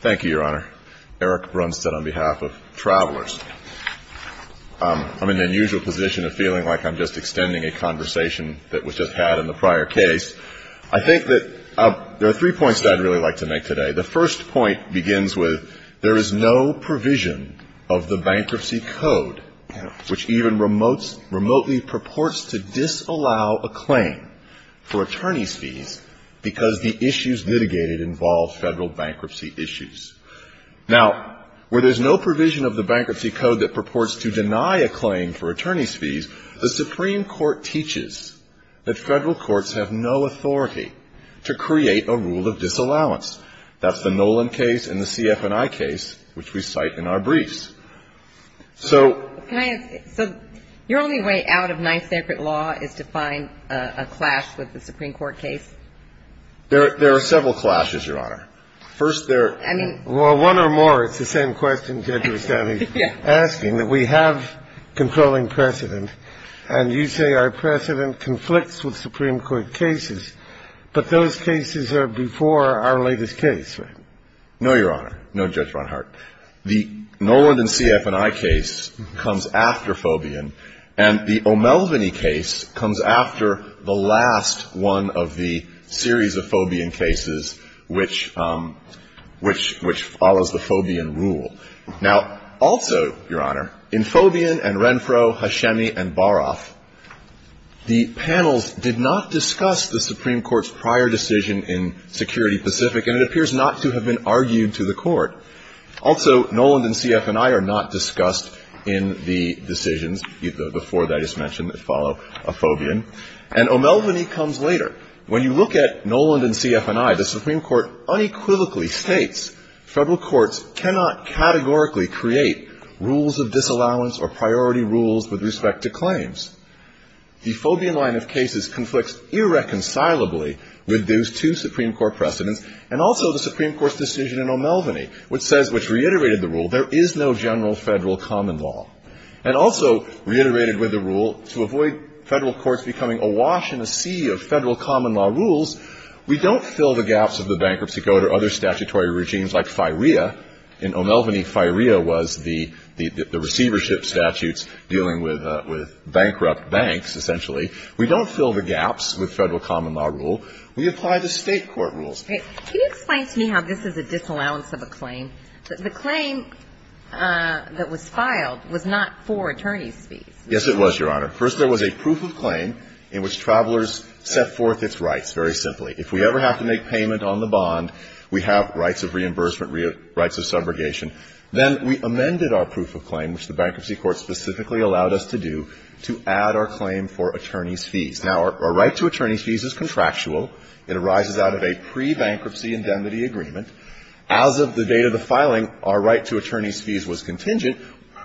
Thank you, Your Honor. Eric Brunstad on behalf of Travelers. I'm in an unusual position of feeling like I'm just extending a conversation that was just had in the prior case. I think that there are three points that I'd really like to make today. The first point begins with there is no provision of the Bankruptcy Code which even remotely purports to disallow a claim for attorney's fees because the issues litigated involve Federal bankruptcy issues. Now, where there's no provision of the Bankruptcy Code that purports to deny a claim for attorney's fees, the Supreme Court teaches that Federal courts have no authority to create a rule of disallowance. That's the Nolan case and the CF&I case which we cite in our briefs. So your only way out of nice sacred law is to find a clash with the Supreme Court case? There are several clashes, Your Honor. First, there are. Well, one or more. It's the same question, Judge Rustavi, asking that we have controlling precedent, and you say our precedent conflicts with Supreme Court cases, but those cases are before our latest case. No, Your Honor. No, Judge Ronhart. The Nolan and CF&I case comes after Fobian, and the O'Melveny case comes after the last one of the series of Fobian cases which follows the Fobian rule. Now, also, Your Honor, in Fobian and Renfro, Hashemi and Baroff, the panels did not discuss the Supreme Court's prior decision in Security Pacific, and it appears not to have been argued to the Court. Also, Nolan and CF&I are not discussed in the decisions before that, as mentioned, that follow a Fobian. And O'Melveny comes later. When you look at Nolan and CF&I, the Supreme Court unequivocally states Federal courts cannot categorically create rules of disallowance or priority claims. The Fobian line of cases conflicts irreconcilably with those two Supreme Court precedents and also the Supreme Court's decision in O'Melveny, which says, which reiterated the rule, there is no general Federal common law. And also reiterated with the rule, to avoid Federal courts becoming awash in a sea of Federal common law rules, we don't fill the gaps of the Bankruptcy Code or other statutory regimes like FIREA. In O'Melveny, FIREA was the receivership statutes dealing with bankrupt banks, essentially. We don't fill the gaps with Federal common law rule. We apply the State court rules. Can you explain to me how this is a disallowance of a claim, that the claim that was filed was not for attorney's fees? Yes, it was, Your Honor. First, there was a proof of claim in which travelers set forth its rights, very simply. If we ever have to make payment on the bond, we have rights of reimbursement, rights of subrogation. Then we amended our proof of claim, which the Bankruptcy Court specifically allowed us to do, to add our claim for attorney's fees. Now, our right to attorney's fees is contractual. It arises out of a pre-bankruptcy indemnity agreement. As of the date of the filing, our right to attorney's fees was contingent.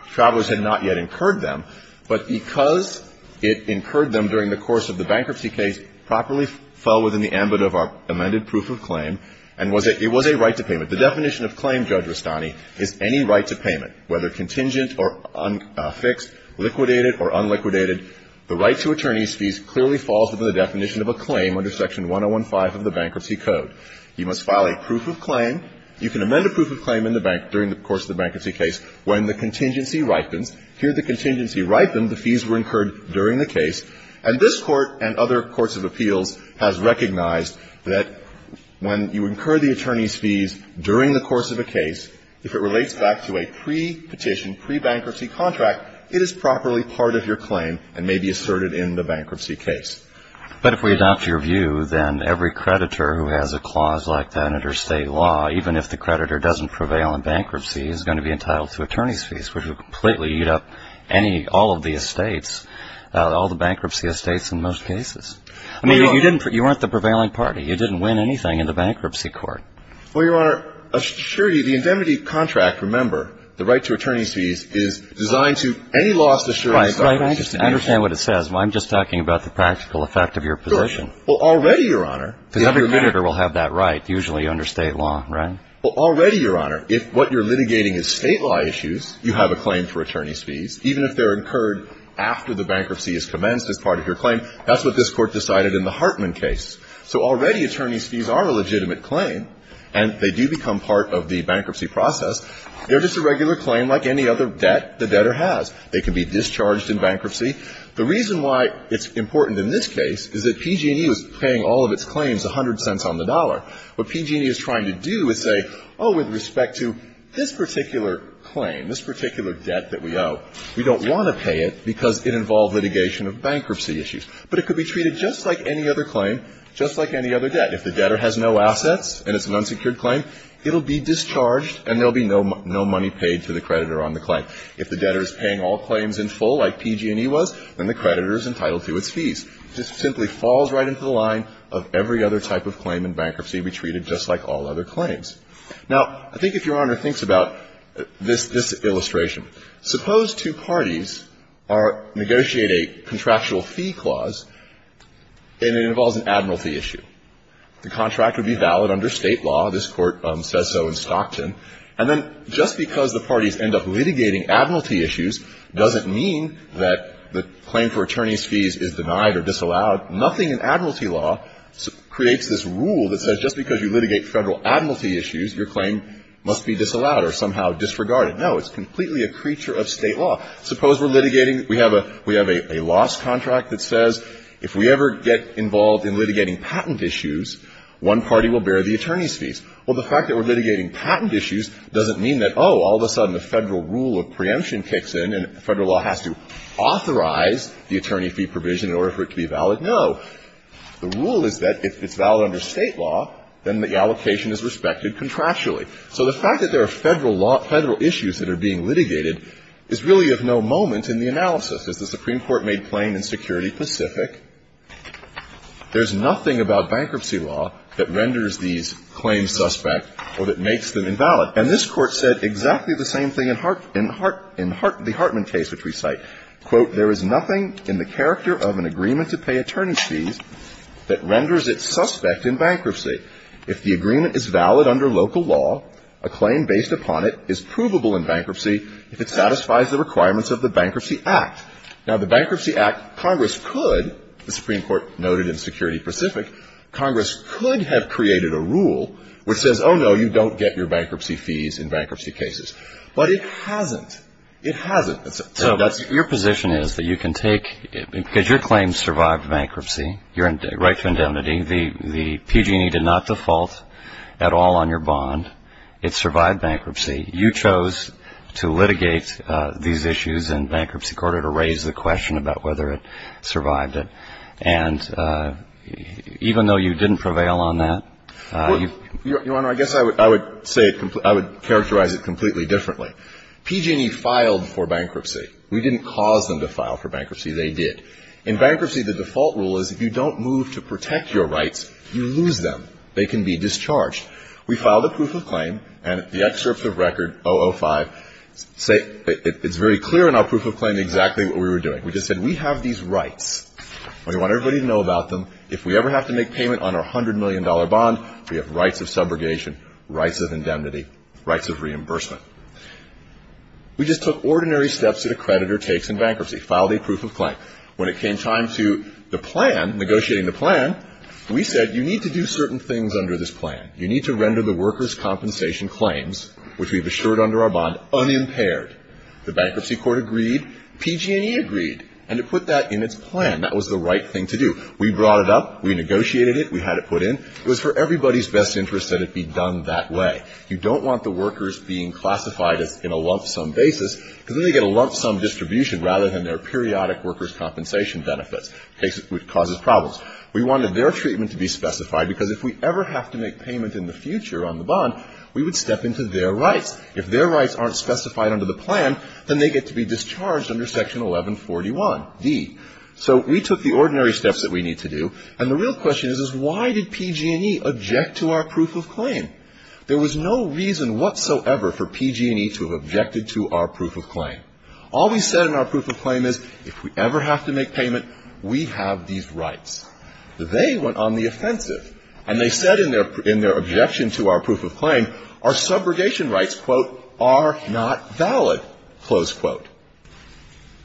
Travelers had not yet incurred them. But because it incurred them during the course of the bankruptcy case, properly fell within the ambit of our amended proof of claim, and it was a right to payment. The definition of claim, Judge Rustani, is any right to payment, whether contingent or fixed, liquidated or unliquidated. The right to attorney's fees clearly falls within the definition of a claim under Section 1015 of the Bankruptcy Code. You must file a proof of claim. You can amend a proof of claim during the course of the bankruptcy case when the contingency incurred during the case. And this Court and other courts of appeals has recognized that when you incur the attorney's fees during the course of a case, if it relates back to a pre-petition, pre-bankruptcy contract, it is properly part of your claim and may be asserted in the bankruptcy case. But if we adopt your view, then every creditor who has a clause like that under state law, even if the creditor doesn't prevail in bankruptcy, is going to be entitled to attorney's fees, which would completely eat up any, all of the estates, all the bankruptcy estates in most cases. I mean, you didn't, you weren't the prevailing party. You didn't win anything in the bankruptcy court. Well, Your Honor, assurity, the indemnity contract, remember, the right to attorney's fees is designed to any lost assurance. Right, right. I just understand what it says. I'm just talking about the practical effect of your position. Well, already, Your Honor. Every creditor will have that right, usually under state law, right? Well, already, Your Honor, if what you're litigating is state law issues, you have a claim for attorney's fees. Even if they're incurred after the bankruptcy has commenced as part of your claim, that's what this Court decided in the Hartman case. So already attorney's fees are a legitimate claim and they do become part of the bankruptcy process. They're just a regular claim like any other debt the debtor has. They can be discharged in bankruptcy. The reason why it's important in this case is that PG&E was paying all of its claims 100 cents on the dollar. What PG&E is trying to do is say, oh, with respect to this particular claim, this particular debt that we owe, we don't want to pay it because it involved litigation of bankruptcy issues. But it could be treated just like any other claim, just like any other debt. If the debtor has no assets and it's an unsecured claim, it will be discharged and there will be no money paid to the creditor on the claim. If the debtor is paying all claims in full like PG&E was, then the creditor is entitled to its fees. This simply falls right into the line of every other type of claim in bankruptcy we treated just like all other claims. Now, I think if Your Honor thinks about this illustration, suppose two parties are negotiating a contractual fee clause and it involves an admiralty issue. The contract would be valid under State law. This Court says so in Stockton. And then just because the parties end up litigating admiralty issues doesn't mean that the claim for attorneys' fees is denied or disallowed. Nothing in admiralty law creates this rule that says just because you litigate Federal admiralty issues, your claim must be disallowed or somehow disregarded. No, it's completely a creature of State law. Suppose we're litigating we have a loss contract that says if we ever get involved in litigating patent issues, one party will bear the attorneys' fees. Well, the fact that we're litigating patent issues doesn't mean that, oh, all of a sudden the Federal rule of preemption kicks in and Federal law has to authorize the attorney fee provision in order for it to be valid. No. The rule is that if it's valid under State law, then the allocation is respected contractually. So the fact that there are Federal law – Federal issues that are being litigated is really of no moment in the analysis. As the Supreme Court made plain in Security Pacific, there's nothing about bankruptcy law that renders these claims suspect or that makes them invalid. And this Court said exactly the same thing in Hart – in Hart – in Hart – the Hartman case, which we cite. Quote, There is nothing in the character of an agreement to pay attorney fees that renders it suspect in bankruptcy. If the agreement is valid under local law, a claim based upon it is provable in bankruptcy if it satisfies the requirements of the Bankruptcy Act. Now, the Bankruptcy Act, Congress could – the Supreme Court noted in Security Pacific – Congress could have created a rule which says, oh, no, you don't get your attorney fees in bankruptcy cases. But it hasn't. It hasn't. So that's – So your position is that you can take – because your claim survived bankruptcy, your right to indemnity. The PG&E did not default at all on your bond. It survived bankruptcy. You chose to litigate these issues in Bankruptcy Court in order to raise the question about whether it survived it. And even though you didn't prevail on that, you've – Your Honor, I guess I would say – I would characterize it completely differently. PG&E filed for bankruptcy. We didn't cause them to file for bankruptcy. They did. In bankruptcy, the default rule is if you don't move to protect your rights, you lose them. They can be discharged. We filed a proof of claim, and the excerpts of record 005 say – it's very clear in our proof of claim exactly what we were doing. We just said we have these rights. We want everybody to know about them. If we ever have to make payment on our $100 million bond, we have rights of subrogation, rights of indemnity, rights of reimbursement. We just took ordinary steps that a creditor takes in bankruptcy. Filed a proof of claim. When it came time to the plan, negotiating the plan, we said you need to do certain things under this plan. You need to render the workers' compensation claims, which we've assured under our bond, unimpaired. The Bankruptcy Court agreed. PG&E agreed. And it put that in its plan. That was the right thing to do. We brought it up. We negotiated it. We had it put in. It was for everybody's best interest that it be done that way. You don't want the workers being classified as in a lump sum basis, because then they get a lump sum distribution rather than their periodic workers' compensation benefits, which causes problems. We wanted their treatment to be specified, because if we ever have to make payment in the future on the bond, we would step into their rights. If their rights aren't specified under the plan, then they get to be discharged under Section 1141d. So we took the ordinary steps that we need to do. And the real question is, is why did PG&E object to our proof of claim? There was no reason whatsoever for PG&E to have objected to our proof of claim. All we said in our proof of claim is if we ever have to make payment, we have these rights. They went on the offensive, and they said in their objection to our proof of claim, our subrogation rights, quote, are not valid, close quote.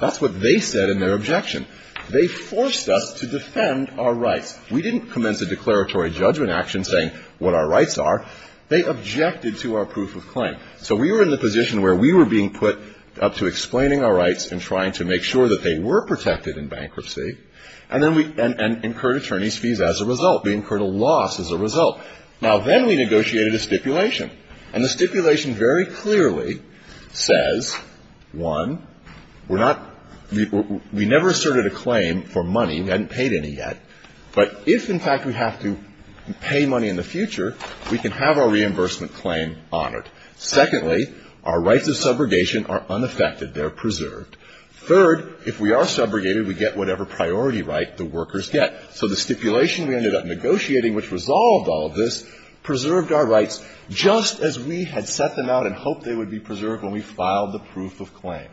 That's what they said in their objection. They forced us to defend our rights. We didn't commence a declaratory judgment action saying what our rights are. They objected to our proof of claim. So we were in the position where we were being put up to explaining our rights and trying to make sure that they were protected in bankruptcy. And then we – and incurred attorneys' fees as a result. We incurred a loss as a result. Now, then we negotiated a stipulation. And the stipulation very clearly says, one, we're not – we never asserted a claim for money. We hadn't paid any yet. But if, in fact, we have to pay money in the future, we can have our reimbursement claim honored. Secondly, our rights of subrogation are unaffected. They're preserved. Third, if we are subrogated, we get whatever priority right the workers get. So the stipulation we ended up negotiating, which resolved all of this, preserved our rights just as we had set them out and hoped they would be preserved when we filed the proof of claim.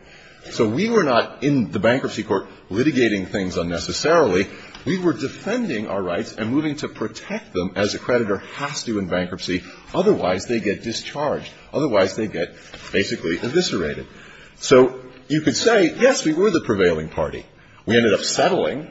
So we were not in the bankruptcy court litigating things unnecessarily. We were defending our rights and moving to protect them as a creditor has to in bankruptcy. Otherwise, they get discharged. Otherwise, they get basically eviscerated. So you could say, yes, we were the prevailing party. We ended up settling.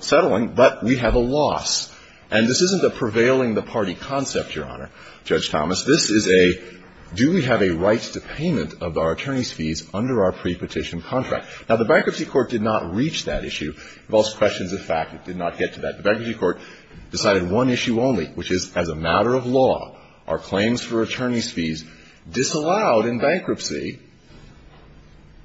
Settling, but we have a loss. And this isn't a prevailing the party concept, Your Honor, Judge Thomas. This is a, do we have a right to payment of our attorney's fees under our prepetition contract? Now, the bankruptcy court did not reach that issue. It involves questions of fact. It did not get to that. The bankruptcy court decided one issue only, which is, as a matter of law, our claims for attorney's fees disallowed in bankruptcy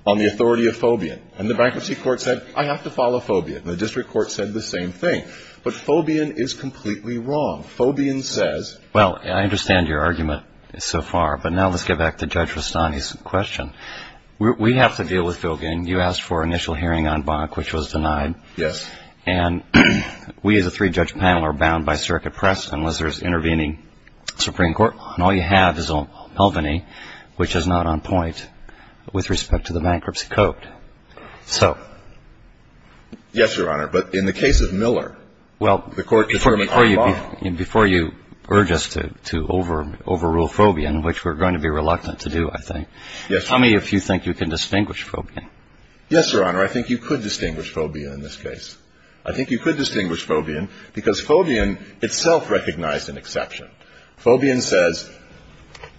on the authority of Fobian. And the bankruptcy court said, I have to follow Fobian. And the district court said the same thing. But Fobian is completely wrong. Fobian says. Well, I understand your argument so far. But now let's get back to Judge Rustani's question. We have to deal with Filgin. You asked for initial hearing on Bonk, which was denied. Yes. And we as a three-judge panel are bound by circuit press unless there's intervening Supreme Court. And all you have is Mulvaney, which is not on point with respect to the bankruptcy court. So. Yes, Your Honor. But in the case of Miller, the court determined on Bonk. Before you urge us to overrule Fobian, which we're going to be reluctant to do, I think. Yes. Tell me if you think you can distinguish Fobian. Yes, Your Honor. I think you could distinguish Fobian in this case. I think you could distinguish Fobian because Fobian itself recognized an exception. Fobian says,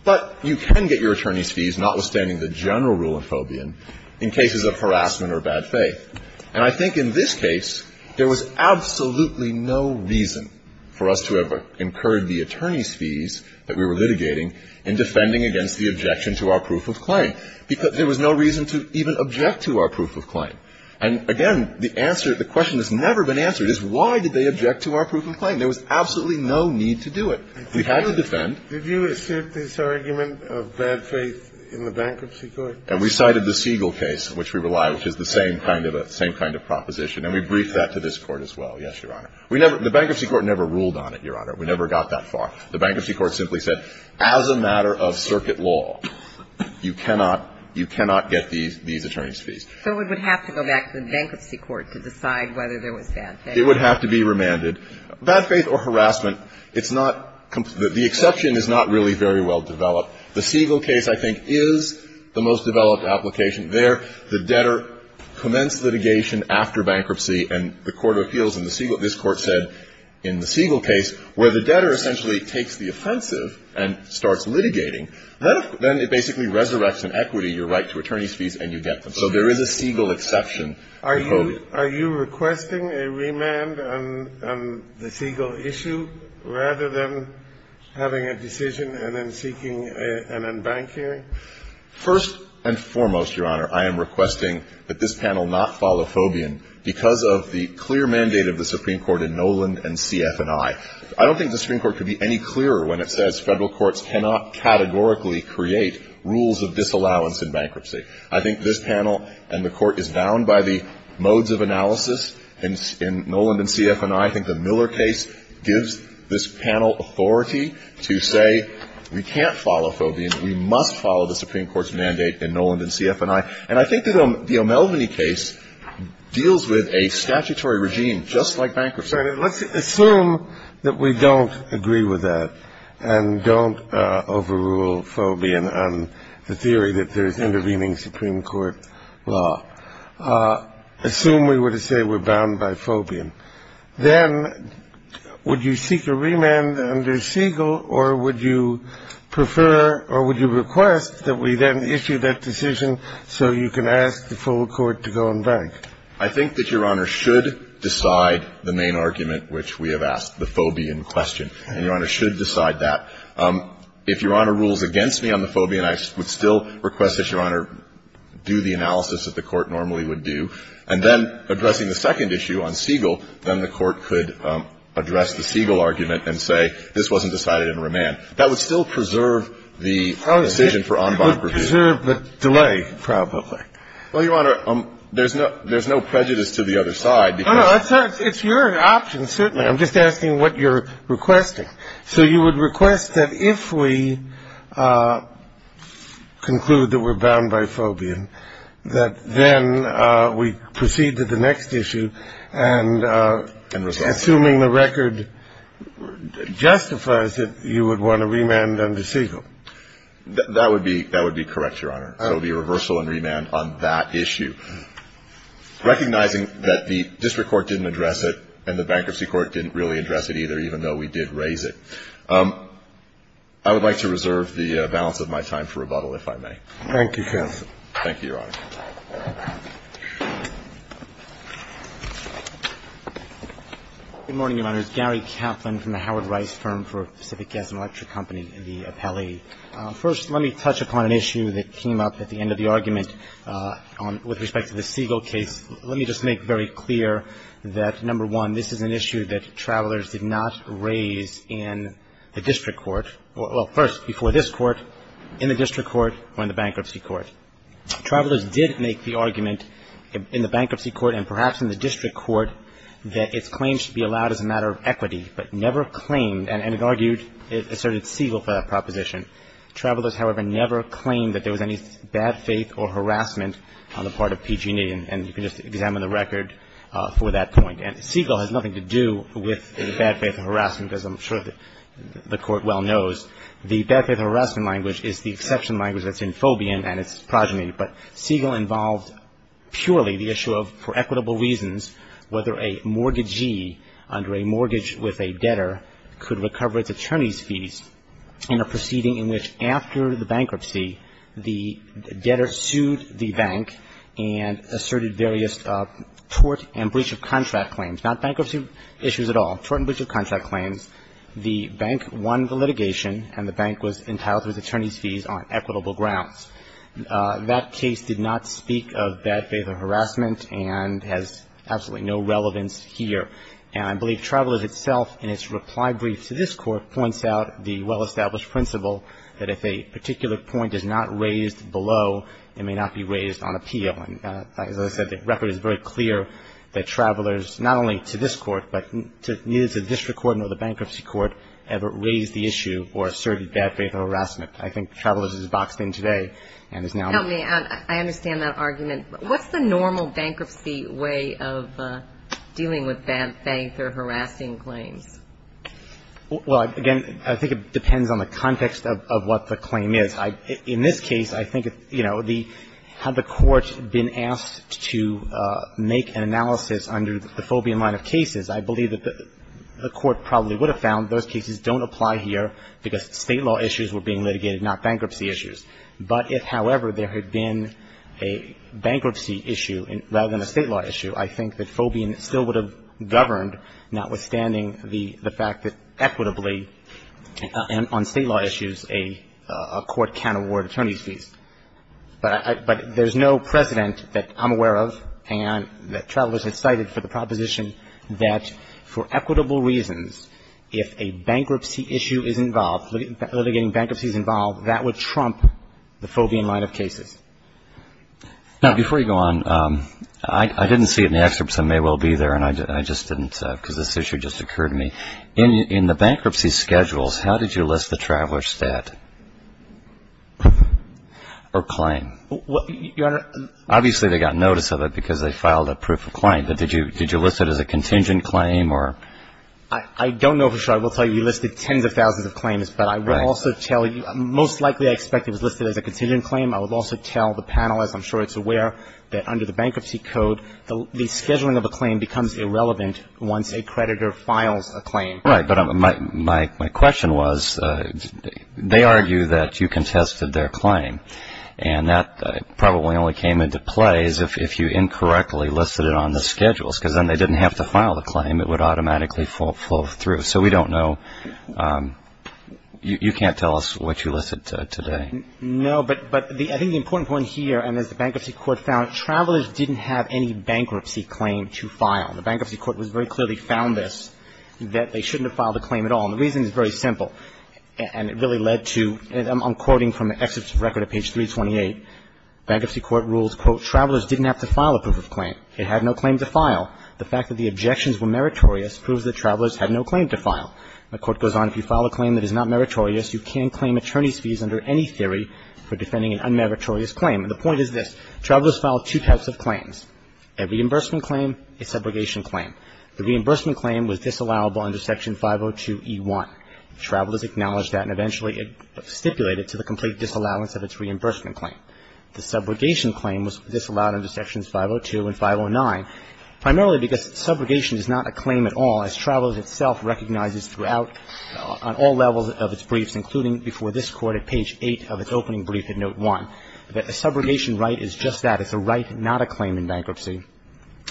but you can get your attorney's fees notwithstanding the general rule in Fobian in cases of harassment or bad faith. And I think in this case, there was absolutely no reason for us to have incurred the attorney's fees that we were litigating in defending against the objection to our proof of claim. Because there was no reason to even object to our proof of claim. And, again, the answer, the question that's never been answered is why did they object to our proof of claim? There was absolutely no need to do it. We had to defend. Did you assert this argument of bad faith in the bankruptcy court? And we cited the Siegel case, which we rely on, which is the same kind of a – same kind of proposition. And we briefed that to this Court as well. Yes, Your Honor. We never – the bankruptcy court never ruled on it, Your Honor. We never got that far. The bankruptcy court simply said, as a matter of circuit law, you cannot – you cannot get these attorney's fees. So it would have to go back to the bankruptcy court to decide whether there was bad faith. It would have to be remanded. Bad faith or harassment, it's not – the exception is not really very well developed. The Siegel case, I think, is the most developed application. There, the debtor commenced litigation after bankruptcy, and the court of appeals in the Siegel – this Court said in the Siegel case, where the debtor essentially takes the offensive and starts litigating, then it basically resurrects an equity, your right to attorney's fees, and you get them. So there is a Siegel exception. Are you – are you requesting a remand on the Siegel issue rather than having a decision and then seeking an unbanked hearing? First and foremost, Your Honor, I am requesting that this panel not follow Fobian because of the clear mandate of the Supreme Court in Noland and CF&I. I don't think the Supreme Court could be any clearer when it says Federal courts cannot categorically create rules of disallowance in bankruptcy. I think this panel and the Court is bound by the modes of analysis in Noland and CF&I. I think the Miller case gives this panel authority to say we can't follow Fobian. We must follow the Supreme Court's mandate in Noland and CF&I. And I think that the O'Melveny case deals with a statutory regime just like bankruptcy. Let's assume that we don't agree with that and don't overrule Fobian on the theory that there is intervening Supreme Court law. Assume we were to say we're bound by Fobian. Then would you seek a remand under Siegel or would you prefer or would you request that we then issue that decision so you can ask the full Court to go unbanked? I think that Your Honor should decide the main argument which we have asked, the Fobian question. And Your Honor should decide that. If Your Honor rules against me on the Fobian, I would still request that Your Honor do the analysis that the Court normally would do. And then addressing the second issue on Siegel, then the Court could address the Siegel argument and say this wasn't decided in remand. That would still preserve the decision for unbank review. It would preserve the delay, probably. Well, Your Honor, there's no prejudice to the other side. No, no. It's your option, certainly. I'm just asking what you're requesting. So you would request that if we conclude that we're bound by Fobian, that then we proceed to the next issue and assuming the record justifies it, you would want a remand under Siegel? That would be correct, Your Honor. It would be a reversal and remand on that issue. Recognizing that the district court didn't address it and the bankruptcy court didn't really address it either, even though we did raise it. I would like to reserve the balance of my time for rebuttal, if I may. Thank you, counsel. Thank you, Your Honor. Good morning, Your Honors. Gary Kaplan from the Howard Rice Firm for Pacific Gas and Electric Company, the appellee. First, let me touch upon an issue that came up at the end of the argument with respect to the Siegel case. Let me just make very clear that, number one, this is an issue that travelers did not raise in the district court or, well, first, before this court, in the district court or in the bankruptcy court. Travelers did make the argument in the bankruptcy court and perhaps in the district court that its claims should be allowed as a matter of equity, but never claimed and argued it asserted Siegel for that proposition. Travelers, however, never claimed that there was any bad faith or harassment on the part of PG&E. And you can just examine the record for that point. And Siegel has nothing to do with bad faith or harassment, as I'm sure the Court well knows. The bad faith or harassment language is the exception language that's in Fobian, and it's progeny. But Siegel involved purely the issue of, for equitable reasons, whether a mortgagee under a mortgage with a debtor could recover its attorney's fees in a proceeding in which, after the bankruptcy, the debtor sued the bank and asserted various tort and breach of contract claims, not bankruptcy issues at all, tort and breach of contract claims. The bank won the litigation, and the bank was entitled to its attorney's fees on equitable grounds. That case did not speak of bad faith or harassment and has absolutely no relevance here. And I believe Travelers itself in its reply brief to this Court points out the well-established principle that if a particular point is not raised below, it may not be raised on appeal. And, as I said, the record is very clear that Travelers, not only to this Court, but neither to the District Court nor the Bankruptcy Court ever raised the issue or asserted bad faith or harassment. I think Travelers is boxed in today and is now not. Help me. I understand that argument. What's the normal bankruptcy way of dealing with bad faith or harassing claims? Well, again, I think it depends on the context of what the claim is. In this case, I think, you know, the – had the Court been asked to make an analysis under the Fobian line of cases, I believe that the Court probably would have found those cases don't apply here because State law issues were being litigated, not bankruptcy issues. But if, however, there had been a bankruptcy issue rather than a State law issue, I think that Fobian still would have governed, notwithstanding the fact that equitably and on State law issues, a court can award attorney's fees. But there's no precedent that I'm aware of and that Travelers has cited for the proposition that for equitable reasons, if a bankruptcy issue is involved, litigating bankruptcy is involved, that would trump the Fobian line of cases. Now, before you go on, I didn't see it in the excerpts, and they will be there, and I just didn't because this issue just occurred to me. In the bankruptcy schedules, how did you list the Traveler stat or claim? Well, Your Honor – Obviously, they got notice of it because they filed a proof of claim, but did you list it as a contingent claim or – I don't know for sure. I will tell you you listed tens of thousands of claims. Right. But I will also tell you – most likely I expect it was listed as a contingent claim. I will also tell the panelists, I'm sure it's aware, that under the Bankruptcy Code, the scheduling of a claim becomes irrelevant once a creditor files a claim. Right, but my question was, they argue that you contested their claim, and that probably only came into play if you incorrectly listed it on the schedules because then they didn't have to file the claim. It would automatically flow through. So we don't know. You can't tell us what you listed today. No, but I think the important point here, and as the Bankruptcy Court found, Travelers didn't have any bankruptcy claim to file. The Bankruptcy Court very clearly found this, that they shouldn't have filed a claim at all. And the reason is very simple. And it really led to – I'm quoting from an excerpt of record at page 328. Bankruptcy Court rules, quote, Travelers didn't have to file a proof of claim. It had no claim to file. The fact that the objections were meritorious proves that Travelers had no claim to file. The Court goes on, if you file a claim that is not meritorious, you can claim attorney's fees under any theory for defending an unmeritorious claim. And the point is this. Travelers filed two types of claims, a reimbursement claim, a subrogation claim. The reimbursement claim was disallowable under Section 502e1. Travelers acknowledged that and eventually stipulated to the complete disallowance of its reimbursement claim. The subrogation claim was disallowed under Sections 502 and 509, primarily because subrogation is not a claim at all, as Travelers itself recognizes throughout on all levels of its briefs, including before this Court at page 8 of its opening brief at Note 1, that a subrogation right is just that. It's a right, not a claim in bankruptcy.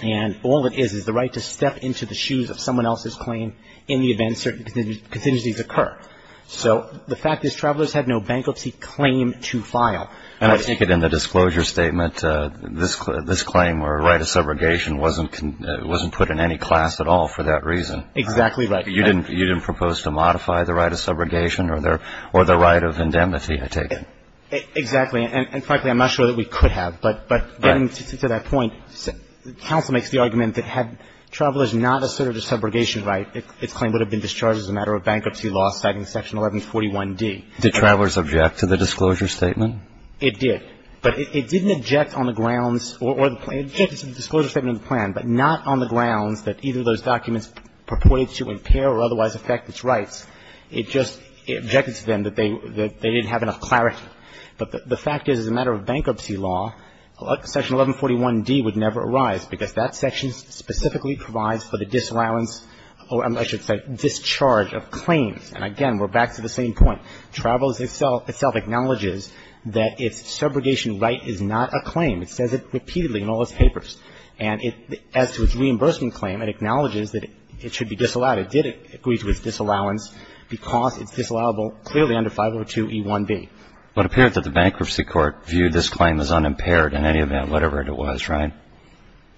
And all it is is the right to step into the shoes of someone else's claim in the event certain contingencies occur. So the fact is Travelers had no bankruptcy claim to file. And I take it in the disclosure statement, this claim or right of subrogation wasn't put in any class at all for that reason. Exactly right. You didn't propose to modify the right of subrogation or the right of indemnity, I take it. Exactly. And frankly, I'm not sure that we could have. But getting to that point, counsel makes the argument that had Travelers not asserted a subrogation right, its claim would have been discharged as a matter of bankruptcy law citing Section 1141d. Did Travelers object to the disclosure statement? It did. But it didn't object on the grounds or the disclosure statement in the plan, but not on the grounds that either of those documents purported to impair or otherwise affect its rights. It just objected to them that they didn't have enough clarity. But the fact is as a matter of bankruptcy law, Section 1141d would never arise because that section specifically provides for the disallowance or I should say discharge of claims. And again, we're back to the same point. Travelers itself acknowledges that its subrogation right is not a claim. It says it repeatedly in all its papers. And as to its reimbursement claim, it acknowledges that it should be disallowed. It did agree to its disallowance because it's disallowable clearly under 502e1b. But it appears that the bankruptcy court viewed this claim as unimpaired in any event, whatever it was, right?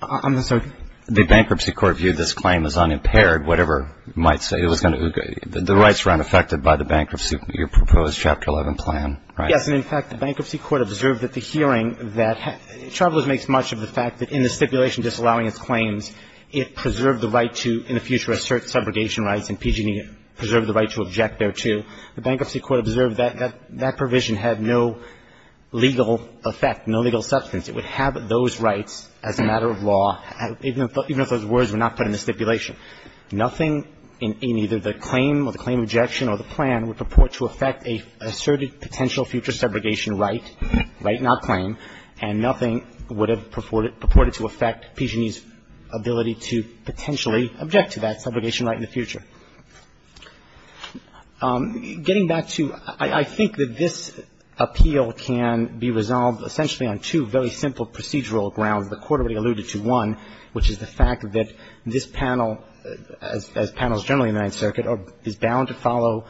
I'm sorry? The bankruptcy court viewed this claim as unimpaired, whatever it might say. The rights were unaffected by the bankruptcy, your proposed Chapter 11 plan, right? Yes. And in fact, the bankruptcy court observed at the hearing that Travelers makes much of the fact that in the stipulation disallowing its claims, it preserved the right to in the future assert subrogation rights and PG&E preserved the right to object thereto. The bankruptcy court observed that that provision had no legal effect, no legal substance. It would have those rights as a matter of law, even if those words were not put in the stipulation. Nothing in either the claim or the claim objection or the plan would purport to affect an asserted potential future subrogation right, right not claim, and nothing would have purported to affect PG&E's ability to potentially object to that subrogation right in the future. Getting back to I think that this appeal can be resolved essentially on two very simple procedural grounds. The court already alluded to one, which is the fact that this panel, as panels generally in the Ninth Circuit, is bound to follow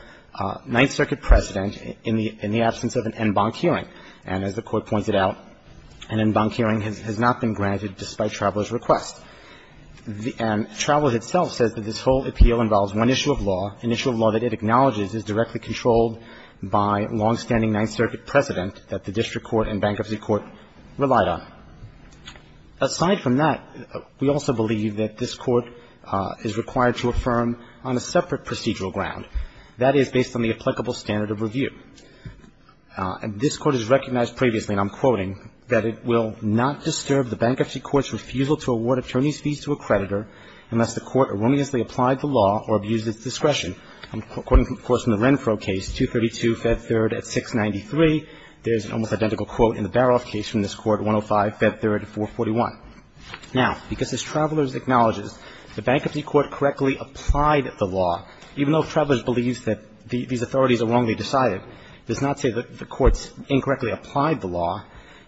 Ninth Circuit precedent in the absence of an en banc hearing. And as the Court pointed out, an en banc hearing has not been granted despite Traveler's request. And Traveler itself says that this whole appeal involves one issue of law, an issue of law that it acknowledges is directly controlled by longstanding Ninth Circuit precedent that the district court and bankruptcy court relied on. Aside from that, we also believe that this Court is required to affirm on a separate procedural ground. That is, based on the applicable standard of review. This Court has recognized previously, and I'm quoting, that it will not disturb the bankruptcy court's refusal to award attorney's fees to a creditor unless the court erroneously applied the law or abused its discretion. I'm quoting, of course, from the Renfro case, 232 Fed 3rd at 693. There's an almost identical quote in the Baroff case from this Court, 105 Fed 3rd at 441. Now, because as Traveler's acknowledges, the bankruptcy court correctly applied the law, even though Traveler's believes that these authorities are wrong, they decided, does not say that the courts incorrectly applied the law,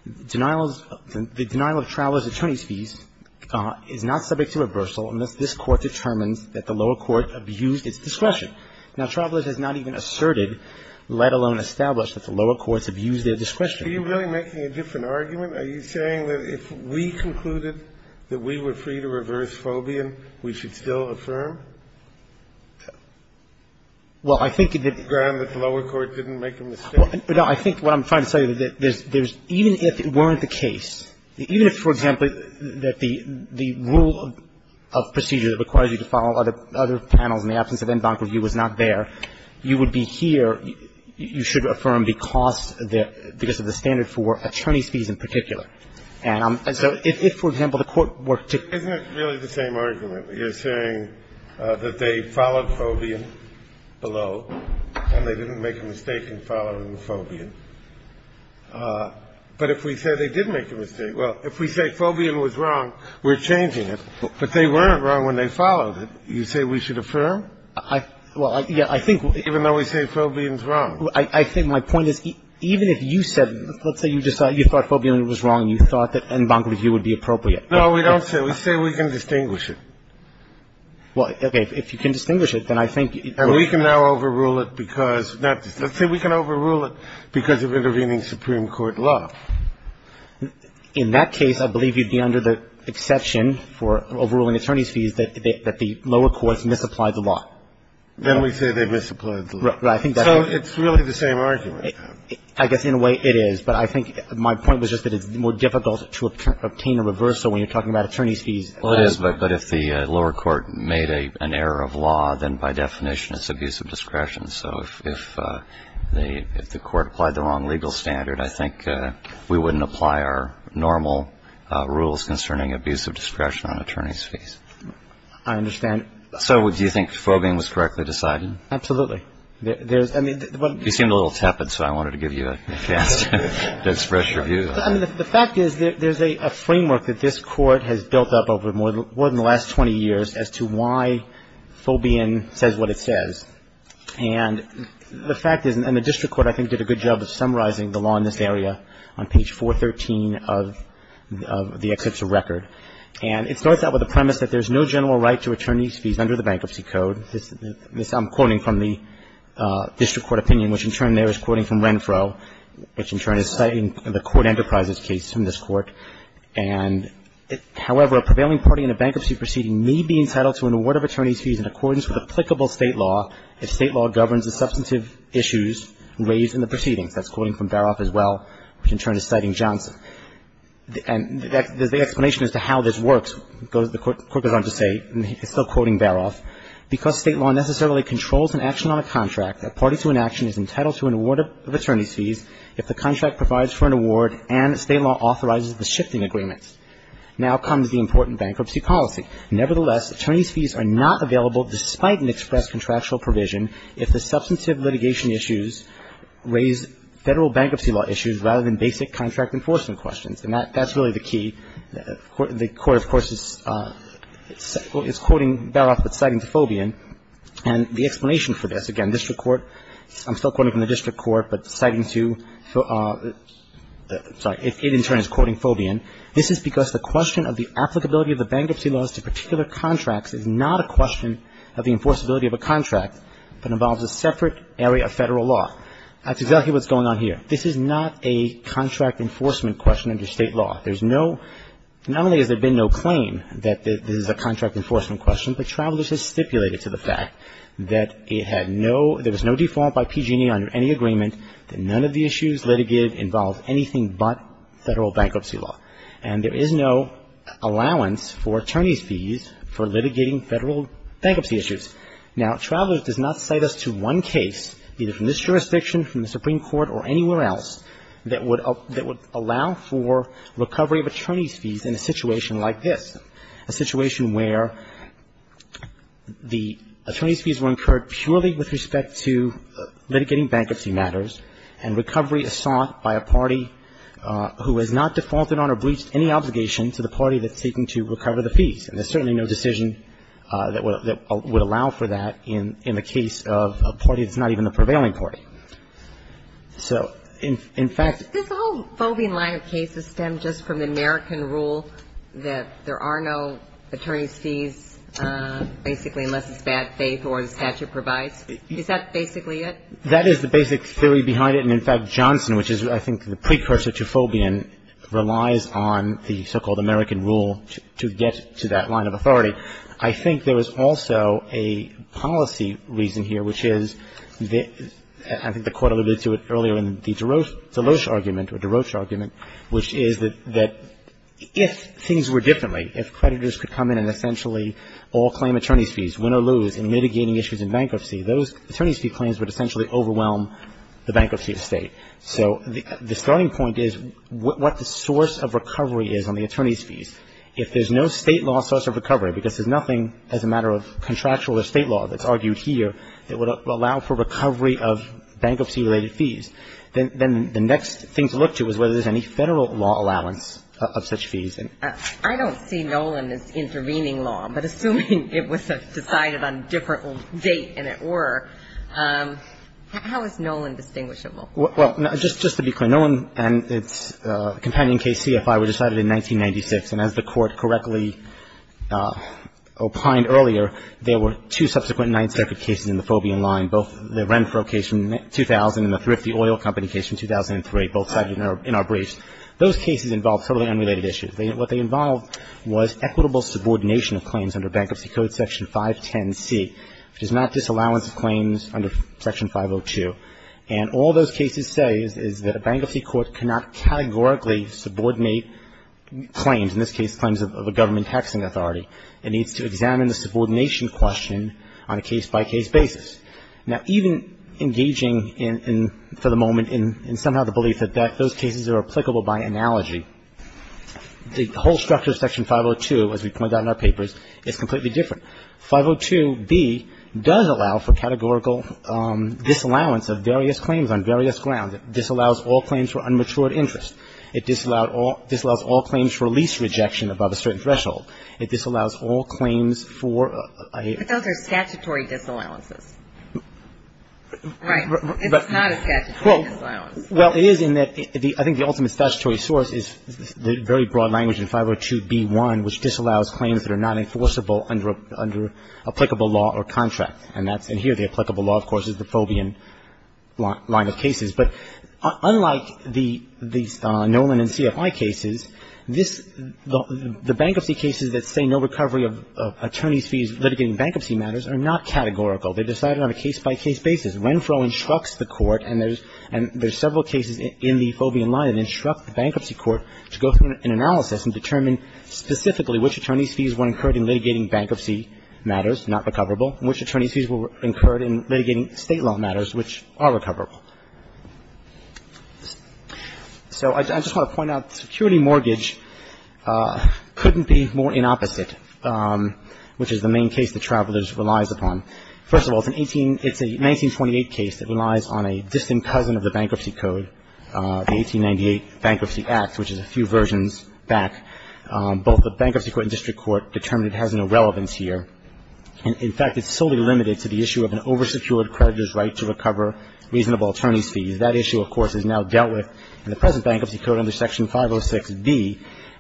the denial of Traveler's attorney's fees is not subject to reversal unless this Court determines that the lower court abused its discretion. Now, Traveler's has not even asserted, let alone established, that the lower courts abused their discretion. Are you really making a different argument? Are you saying that if we concluded that we were free to reverse Fobian, we should still affirm? Well, I think that the lower court didn't make a mistake. I think what I'm trying to say is that even if it weren't the case, even if, for example, that the rule of procedure that requires you to follow other panels in the absence of in-bank review was not there, you would be here, you should affirm because of the standard for attorney's fees in particular. And so if, for example, the court were to ---- Isn't it really the same argument? You're saying that they followed Fobian below and they didn't make a mistake in following Fobian, but if we say they did make a mistake, well, if we say Fobian was wrong, we're changing it. But they weren't wrong when they followed it. You say we should affirm? Well, yeah, I think we'll ---- Even though we say Fobian's wrong. I think my point is even if you said, let's say you thought Fobian was wrong and you thought that in-bank review would be appropriate. No, we don't say. We say we can distinguish it. Well, okay. If you can distinguish it, then I think ---- And we can now overrule it because ---- let's say we can overrule it because of intervening Supreme Court law. In that case, I believe you'd be under the exception for overruling attorney's fees that the lower courts misapplied the law. Then we say they misapplied the law. Right. So it's really the same argument. I guess in a way it is. But I think my point was just that it's more difficult to obtain a reversal when you're talking about attorney's fees. Well, it is. But if the lower court made an error of law, then by definition it's abusive discretion. So if the court applied the wrong legal standard, I think we wouldn't apply our normal rules concerning abusive discretion on attorney's fees. I understand. So do you think Fobian was correctly decided? Absolutely. There's ---- You seemed a little tepid, so I wanted to give you a chance to express your view. The fact is there's a framework that this Court has built up over more than the last 20 years as to why Fobian says what it says. And the fact is, and the district court I think did a good job of summarizing the law in this area on page 413 of the Eklipsa record. And it starts out with the premise that there's no general right to attorney's fees under the Bankruptcy Code. This I'm quoting from the district court opinion, which in turn there is quoting from Renfro, which in turn is citing the Court Enterprises case in this Court. And, however, a prevailing party in a bankruptcy proceeding may be entitled to an award of attorney's fees in accordance with applicable State law if State law governs the substantive issues raised in the proceedings. That's quoting from Baroff as well, which in turn is citing Johnson. And there's the explanation as to how this works. The Court goes on to say, and he's still quoting Baroff, because State law necessarily controls an action on a contract, a party to an action is entitled to an award of attorney's fees if the contract provides for an award and State law authorizes the shifting agreements. Now comes the important bankruptcy policy. Nevertheless, attorney's fees are not available despite an express contractual provision if the substantive litigation issues raise Federal bankruptcy law issues rather than basic contract enforcement questions. And that's really the key. The Court, of course, is quoting Baroff, but citing to Fobian. And the explanation for this, again, district court, I'm still quoting from the district court, but citing to, sorry, it in turn is quoting Fobian. This is because the question of the applicability of the bankruptcy laws to particular contracts is not a question of the enforceability of a contract, but involves a separate area of Federal law. That's exactly what's going on here. This is not a contract enforcement question under State law. There's no, not only has there been no claim that this is a contract enforcement question, but Travelers has stipulated to the fact that it had no, there was no default by PG&E under any agreement that none of the issues litigated involved anything but Federal bankruptcy law. And there is no allowance for attorney's fees for litigating Federal bankruptcy issues. Now, Travelers does not cite us to one case, either from this jurisdiction, from the Supreme Court, or anywhere else, that would allow for recovery of attorney's fees in a situation like this, a situation where the attorney's fees were incurred purely with respect to litigating bankruptcy matters, and recovery is sought by a party who has not defaulted on or breached any obligation to the party that's seeking to recover the fees. And there's certainly no decision that would allow for that in the case of a party that's not even the prevailing party. So, in fact — This whole Fobian line of cases stemmed just from the American rule that there are no attorney's fees, basically, unless it's bad faith or the statute provides? Is that basically it? That is the basic theory behind it. And, in fact, Johnson, which is, I think, the precursor to Fobian, relies on the so-called American rule to get to that line of authority. I think there is also a policy reason here, which is the — I think the Court alluded to it earlier in the DeRoche argument, which is that if things were differently, if creditors could come in and essentially all claim attorney's fees, win or lose, in mitigating issues in bankruptcy, those attorney's fee claims would essentially overwhelm the bankruptcy of State. So the starting point is what the source of recovery is on the attorney's fees. If there's no State law source of recovery, because there's nothing as a matter of contractual or State law that's argued here that would allow for recovery of bankruptcy-related fees, then the next thing to look to is whether there's any Federal law allowance of such fees. I don't see Nolan as intervening law, but assuming it was decided on a different date than it were, how is Nolan distinguishable? Well, just to be clear, Nolan and its companion case CFI were decided in 1996, and as the Court correctly opined earlier, there were two subsequent Ninth Circuit cases in the Fobian line, both the Renfro case from 2000 and the Thrifty Oil Company case from 2003, both cited in our briefs. Those cases involved totally unrelated issues. What they involved was equitable subordination of claims under Bankruptcy Code Section 510C, which is not disallowance of claims under Section 502. And all those cases say is that a bankruptcy court cannot categorically subordinate claims, in this case claims of a government taxing authority. It needs to examine the subordination question on a case-by-case basis. Now, even engaging in, for the moment, in somehow the belief that those cases are applicable by analogy, the whole structure of Section 502, as we point out in our papers, is completely different. 502B does allow for categorical disallowance of various claims on various grounds. It disallows all claims for unmatured interest. It disallows all claims for lease rejection above a certain threshold. It disallows all claims for a ---- But those are statutory disallowances. Right. It's not a statutory disallowance. Well, it is in that the ultimate statutory source is the very broad language in 502B1, which disallows claims that are not enforceable under applicable law or contract. And that's in here. The applicable law, of course, is the Fobian line of cases. But unlike the Nolan and CFI cases, this ---- the bankruptcy cases that say no recovery of attorney's fees litigating bankruptcy matters are not categorical. They're decided on a case-by-case basis. Renfroe instructs the Court, and there's several cases in the Fobian line, and instructs the Bankruptcy Court to go through an analysis and determine specifically which attorney's fees were incurred in litigating bankruptcy matters not recoverable and which attorney's fees were incurred in litigating State law matters which are recoverable. So I just want to point out, security mortgage couldn't be more inopposite, which is the main case that Travelers relies upon. First of all, it's an 18 ---- it's a 1928 case that relies on a distant cousin of the Bankruptcy Code, the 1898 Bankruptcy Act, which is a few versions back. Both the Bankruptcy Court and district court determined it has no relevance here. In fact, it's solely limited to the issue of an oversecured creditor's right to recover reasonable attorney's fees. That issue, of course, is now dealt with in the present Bankruptcy Code under Section 506B.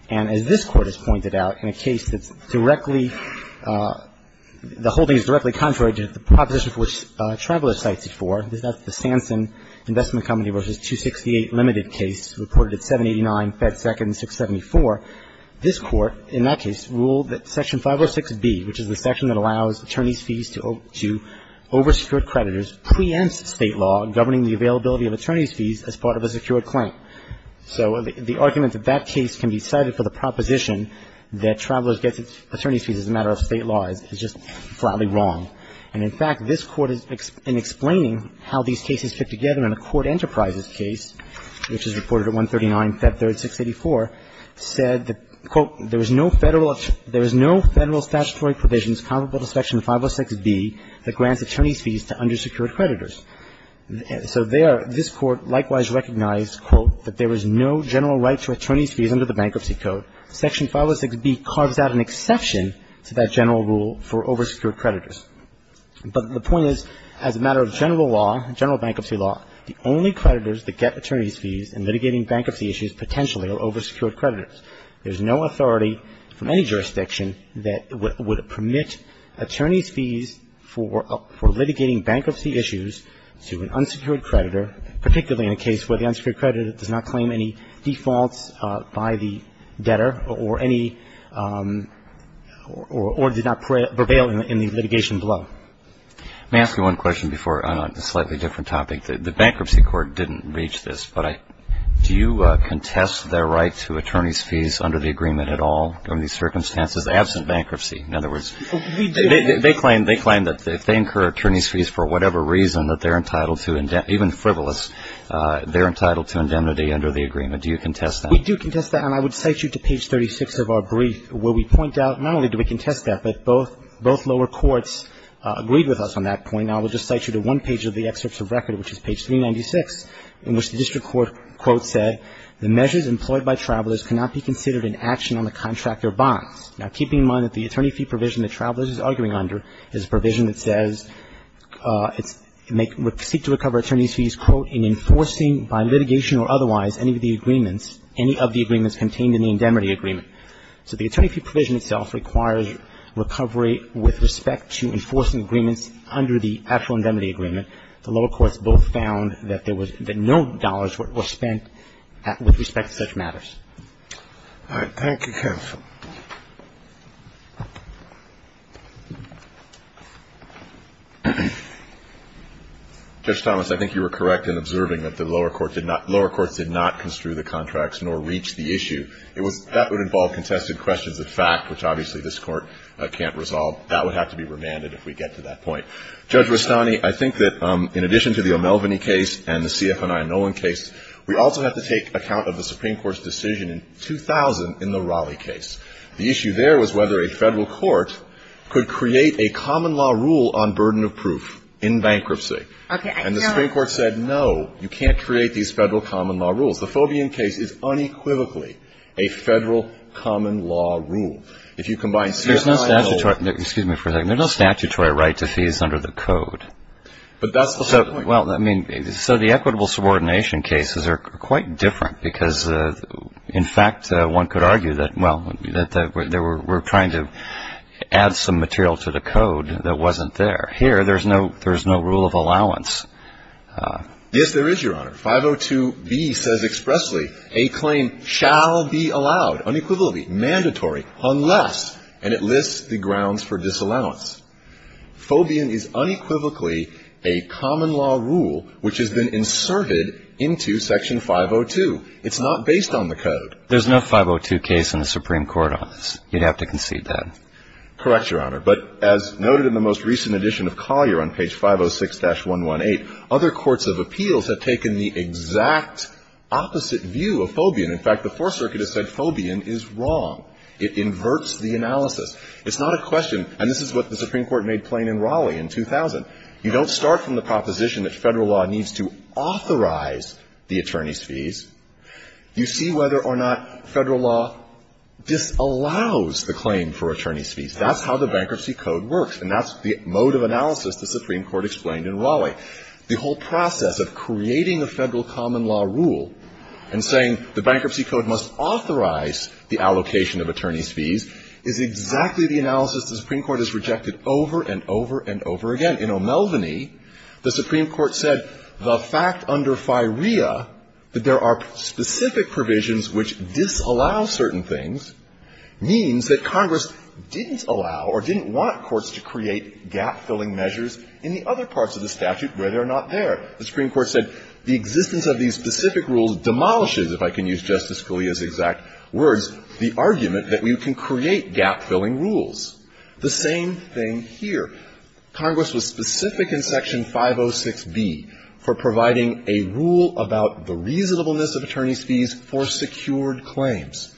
And as this Court has pointed out, in a case that's directly ---- the whole thing is directly contrary to the proposition for which Travelers cites it for. That's the Sanson Investment Company v. 268 limited case reported at 789 Fed Second 674. This Court, in that case, ruled that Section 506B, which is the section that allows attorneys' fees to oversecured creditors, preempts State law governing the availability of attorney's fees as part of a secured claim. So the argument that that case can be cited for the proposition that Travelers gets attorney's fees as a matter of State law is just flatly wrong. And in fact, this Court, in explaining how these cases fit together in a court enterprises case, which is reported at 139 Fed Third 684, said that, quote, there is no Federal statutory provisions comparable to Section 506B that grants attorney's fees to undersecured creditors. So there, this Court likewise recognized, quote, that there is no general right to attorney's fees under the Bankruptcy Code. Section 506B carves out an exception to that general rule for oversecured creditors. But the point is, as a matter of general law, general bankruptcy law, the only creditors that get attorney's fees in litigating bankruptcy issues potentially are oversecured creditors. There's no authority from any jurisdiction that would permit attorney's fees for litigating bankruptcy issues to an unsecured creditor, particularly in a case where the unsecured creditor does not claim any defaults by the debtor or any or did not prevail in the litigation below. Let me ask you one question before on a slightly different topic. I think the Bankruptcy Court didn't reach this, but do you contest their right to attorney's fees under the agreement at all under these circumstances, absent bankruptcy? In other words, they claim that if they incur attorney's fees for whatever reason that they're entitled to, even frivolous, they're entitled to indemnity under the agreement. Do you contest that? We do contest that. And I would cite you to page 36 of our brief, where we point out not only do we contest that, but both lower courts agreed with us on that point. Now, I will just cite you to one page of the excerpts of record, which is page 396, in which the district court, quote, said, The measures employed by travelers cannot be considered an action on the contractor bonds. Now, keeping in mind that the attorney fee provision the traveler is arguing under is a provision that says it's seek to recover attorney's fees, quote, in enforcing by litigation or otherwise any of the agreements contained in the indemnity agreement. So the attorney fee provision itself requires recovery with respect to enforcing agreements under the actual indemnity agreement. The lower courts both found that there was no dollars were spent with respect to such matters. All right. Thank you, counsel. Judge Thomas, I think you were correct in observing that the lower court did not lower courts did not construe the contracts nor reach the issue. It was that would involve contested questions of fact, which obviously this Court can't resolve. That would have to be remanded if we get to that point. Judge Rustani, I think that in addition to the O'Melveny case and the C.F. and I. Nolan case, we also have to take account of the Supreme Court's decision in 2000 in the Raleigh case. The issue there was whether a Federal court could create a common law rule on burden of proof in bankruptcy. And the Supreme Court said, no, you can't create these Federal common law rules. The Fobian case is unequivocally a Federal common law rule. If you combine C.F. and I. Excuse me for a second. There's no statutory right to fees under the Code. But that's the whole point. Well, I mean, so the equitable subordination cases are quite different because, in fact, one could argue that, well, that they were trying to add some material to the Code that wasn't there. Here there's no rule of allowance. Yes, there is, Your Honor. 502B says expressly, a claim shall be allowed, unequivocally, mandatory, unless, and it lists the grounds for disallowance. Fobian is unequivocally a common law rule which has been inserted into Section 502. It's not based on the Code. There's no 502 case in the Supreme Court on this. You'd have to concede that. Correct, Your Honor. But as noted in the most recent edition of Collier on page 506-118, other courts of appeals have taken the exact opposite view of Fobian. In fact, the Fourth Circuit has said Fobian is wrong. It inverts the analysis. It's not a question, and this is what the Supreme Court made plain in Raleigh in 2000, you don't start from the proposition that Federal law needs to authorize the attorney's fees. You see whether or not Federal law disallows the claim for attorney's fees. That's how the Bankruptcy Code works. And that's the mode of analysis the Supreme Court explained in Raleigh. The whole process of creating a Federal common law rule and saying the Bankruptcy Code must authorize the allocation of attorney's fees is exactly the analysis the Supreme Court has rejected over and over and over again. In O'Melveny, the Supreme Court said the fact under FIREA that there are specific provisions which disallow certain things means that Congress didn't allow or didn't want courts to create gap-filling measures in the other parts of the statute where they're not there. The Supreme Court said the existence of these specific rules demolishes, if I can use Justice Scalia's exact words, the argument that we can create gap-filling rules. The same thing here. Congress was specific in Section 506B for providing a rule about the reasonableness of attorney's fees for secured claims.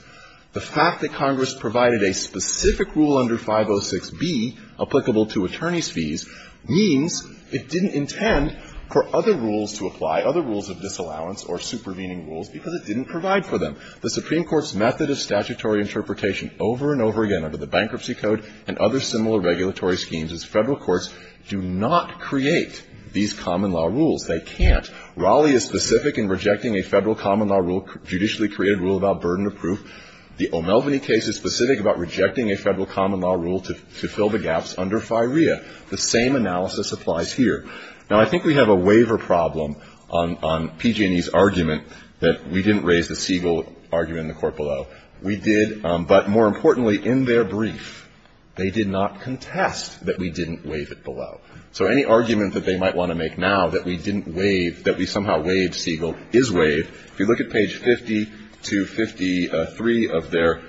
The fact that Congress provided a specific rule under 506B applicable to attorney's fees means it didn't intend for other rules to apply, other rules of disallowance or supervening rules, because it didn't provide for them. The Supreme Court's method of statutory interpretation over and over again under the Bankruptcy Code and other similar regulatory schemes as Federal courts do not create these common law rules. They can't. Raleigh is specific in rejecting a Federal common law rule, judicially created rule about burden of proof. The O'Melveny case is specific about rejecting a Federal common law rule to fill the gaps under FIREA. The same analysis applies here. Now, I think we have a waiver problem on PG&E's argument that we didn't raise the Siegel argument in the court below. We did, but more importantly, in their brief, they did not contest that we didn't waive it below. So any argument that they might want to make now that we didn't waive, that we somehow waived Siegel is waived. If you look at page 50 to 53 of their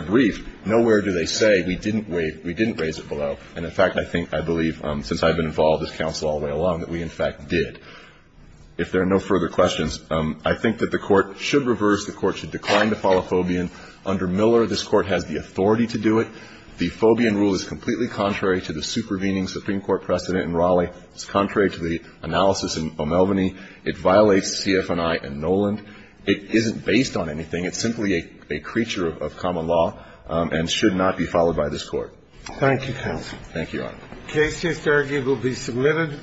brief, nowhere do they say we didn't waive or we didn't raise it below. And, in fact, I think, I believe, since I've been involved as counsel all the way along, that we, in fact, did. If there are no further questions, I think that the Court should reverse. The Court should decline to follow Fobian. Under Miller, this Court has the authority to do it. The Fobian rule is completely contrary to the supervening Supreme Court precedent in Raleigh. It's contrary to the analysis in O'Melveny. It violates CF&I and Noland. It isn't based on anything. It's simply a creature of common law and should not be followed by this Court. Thank you, counsel. Thank you, Your Honor. The case here will be submitted.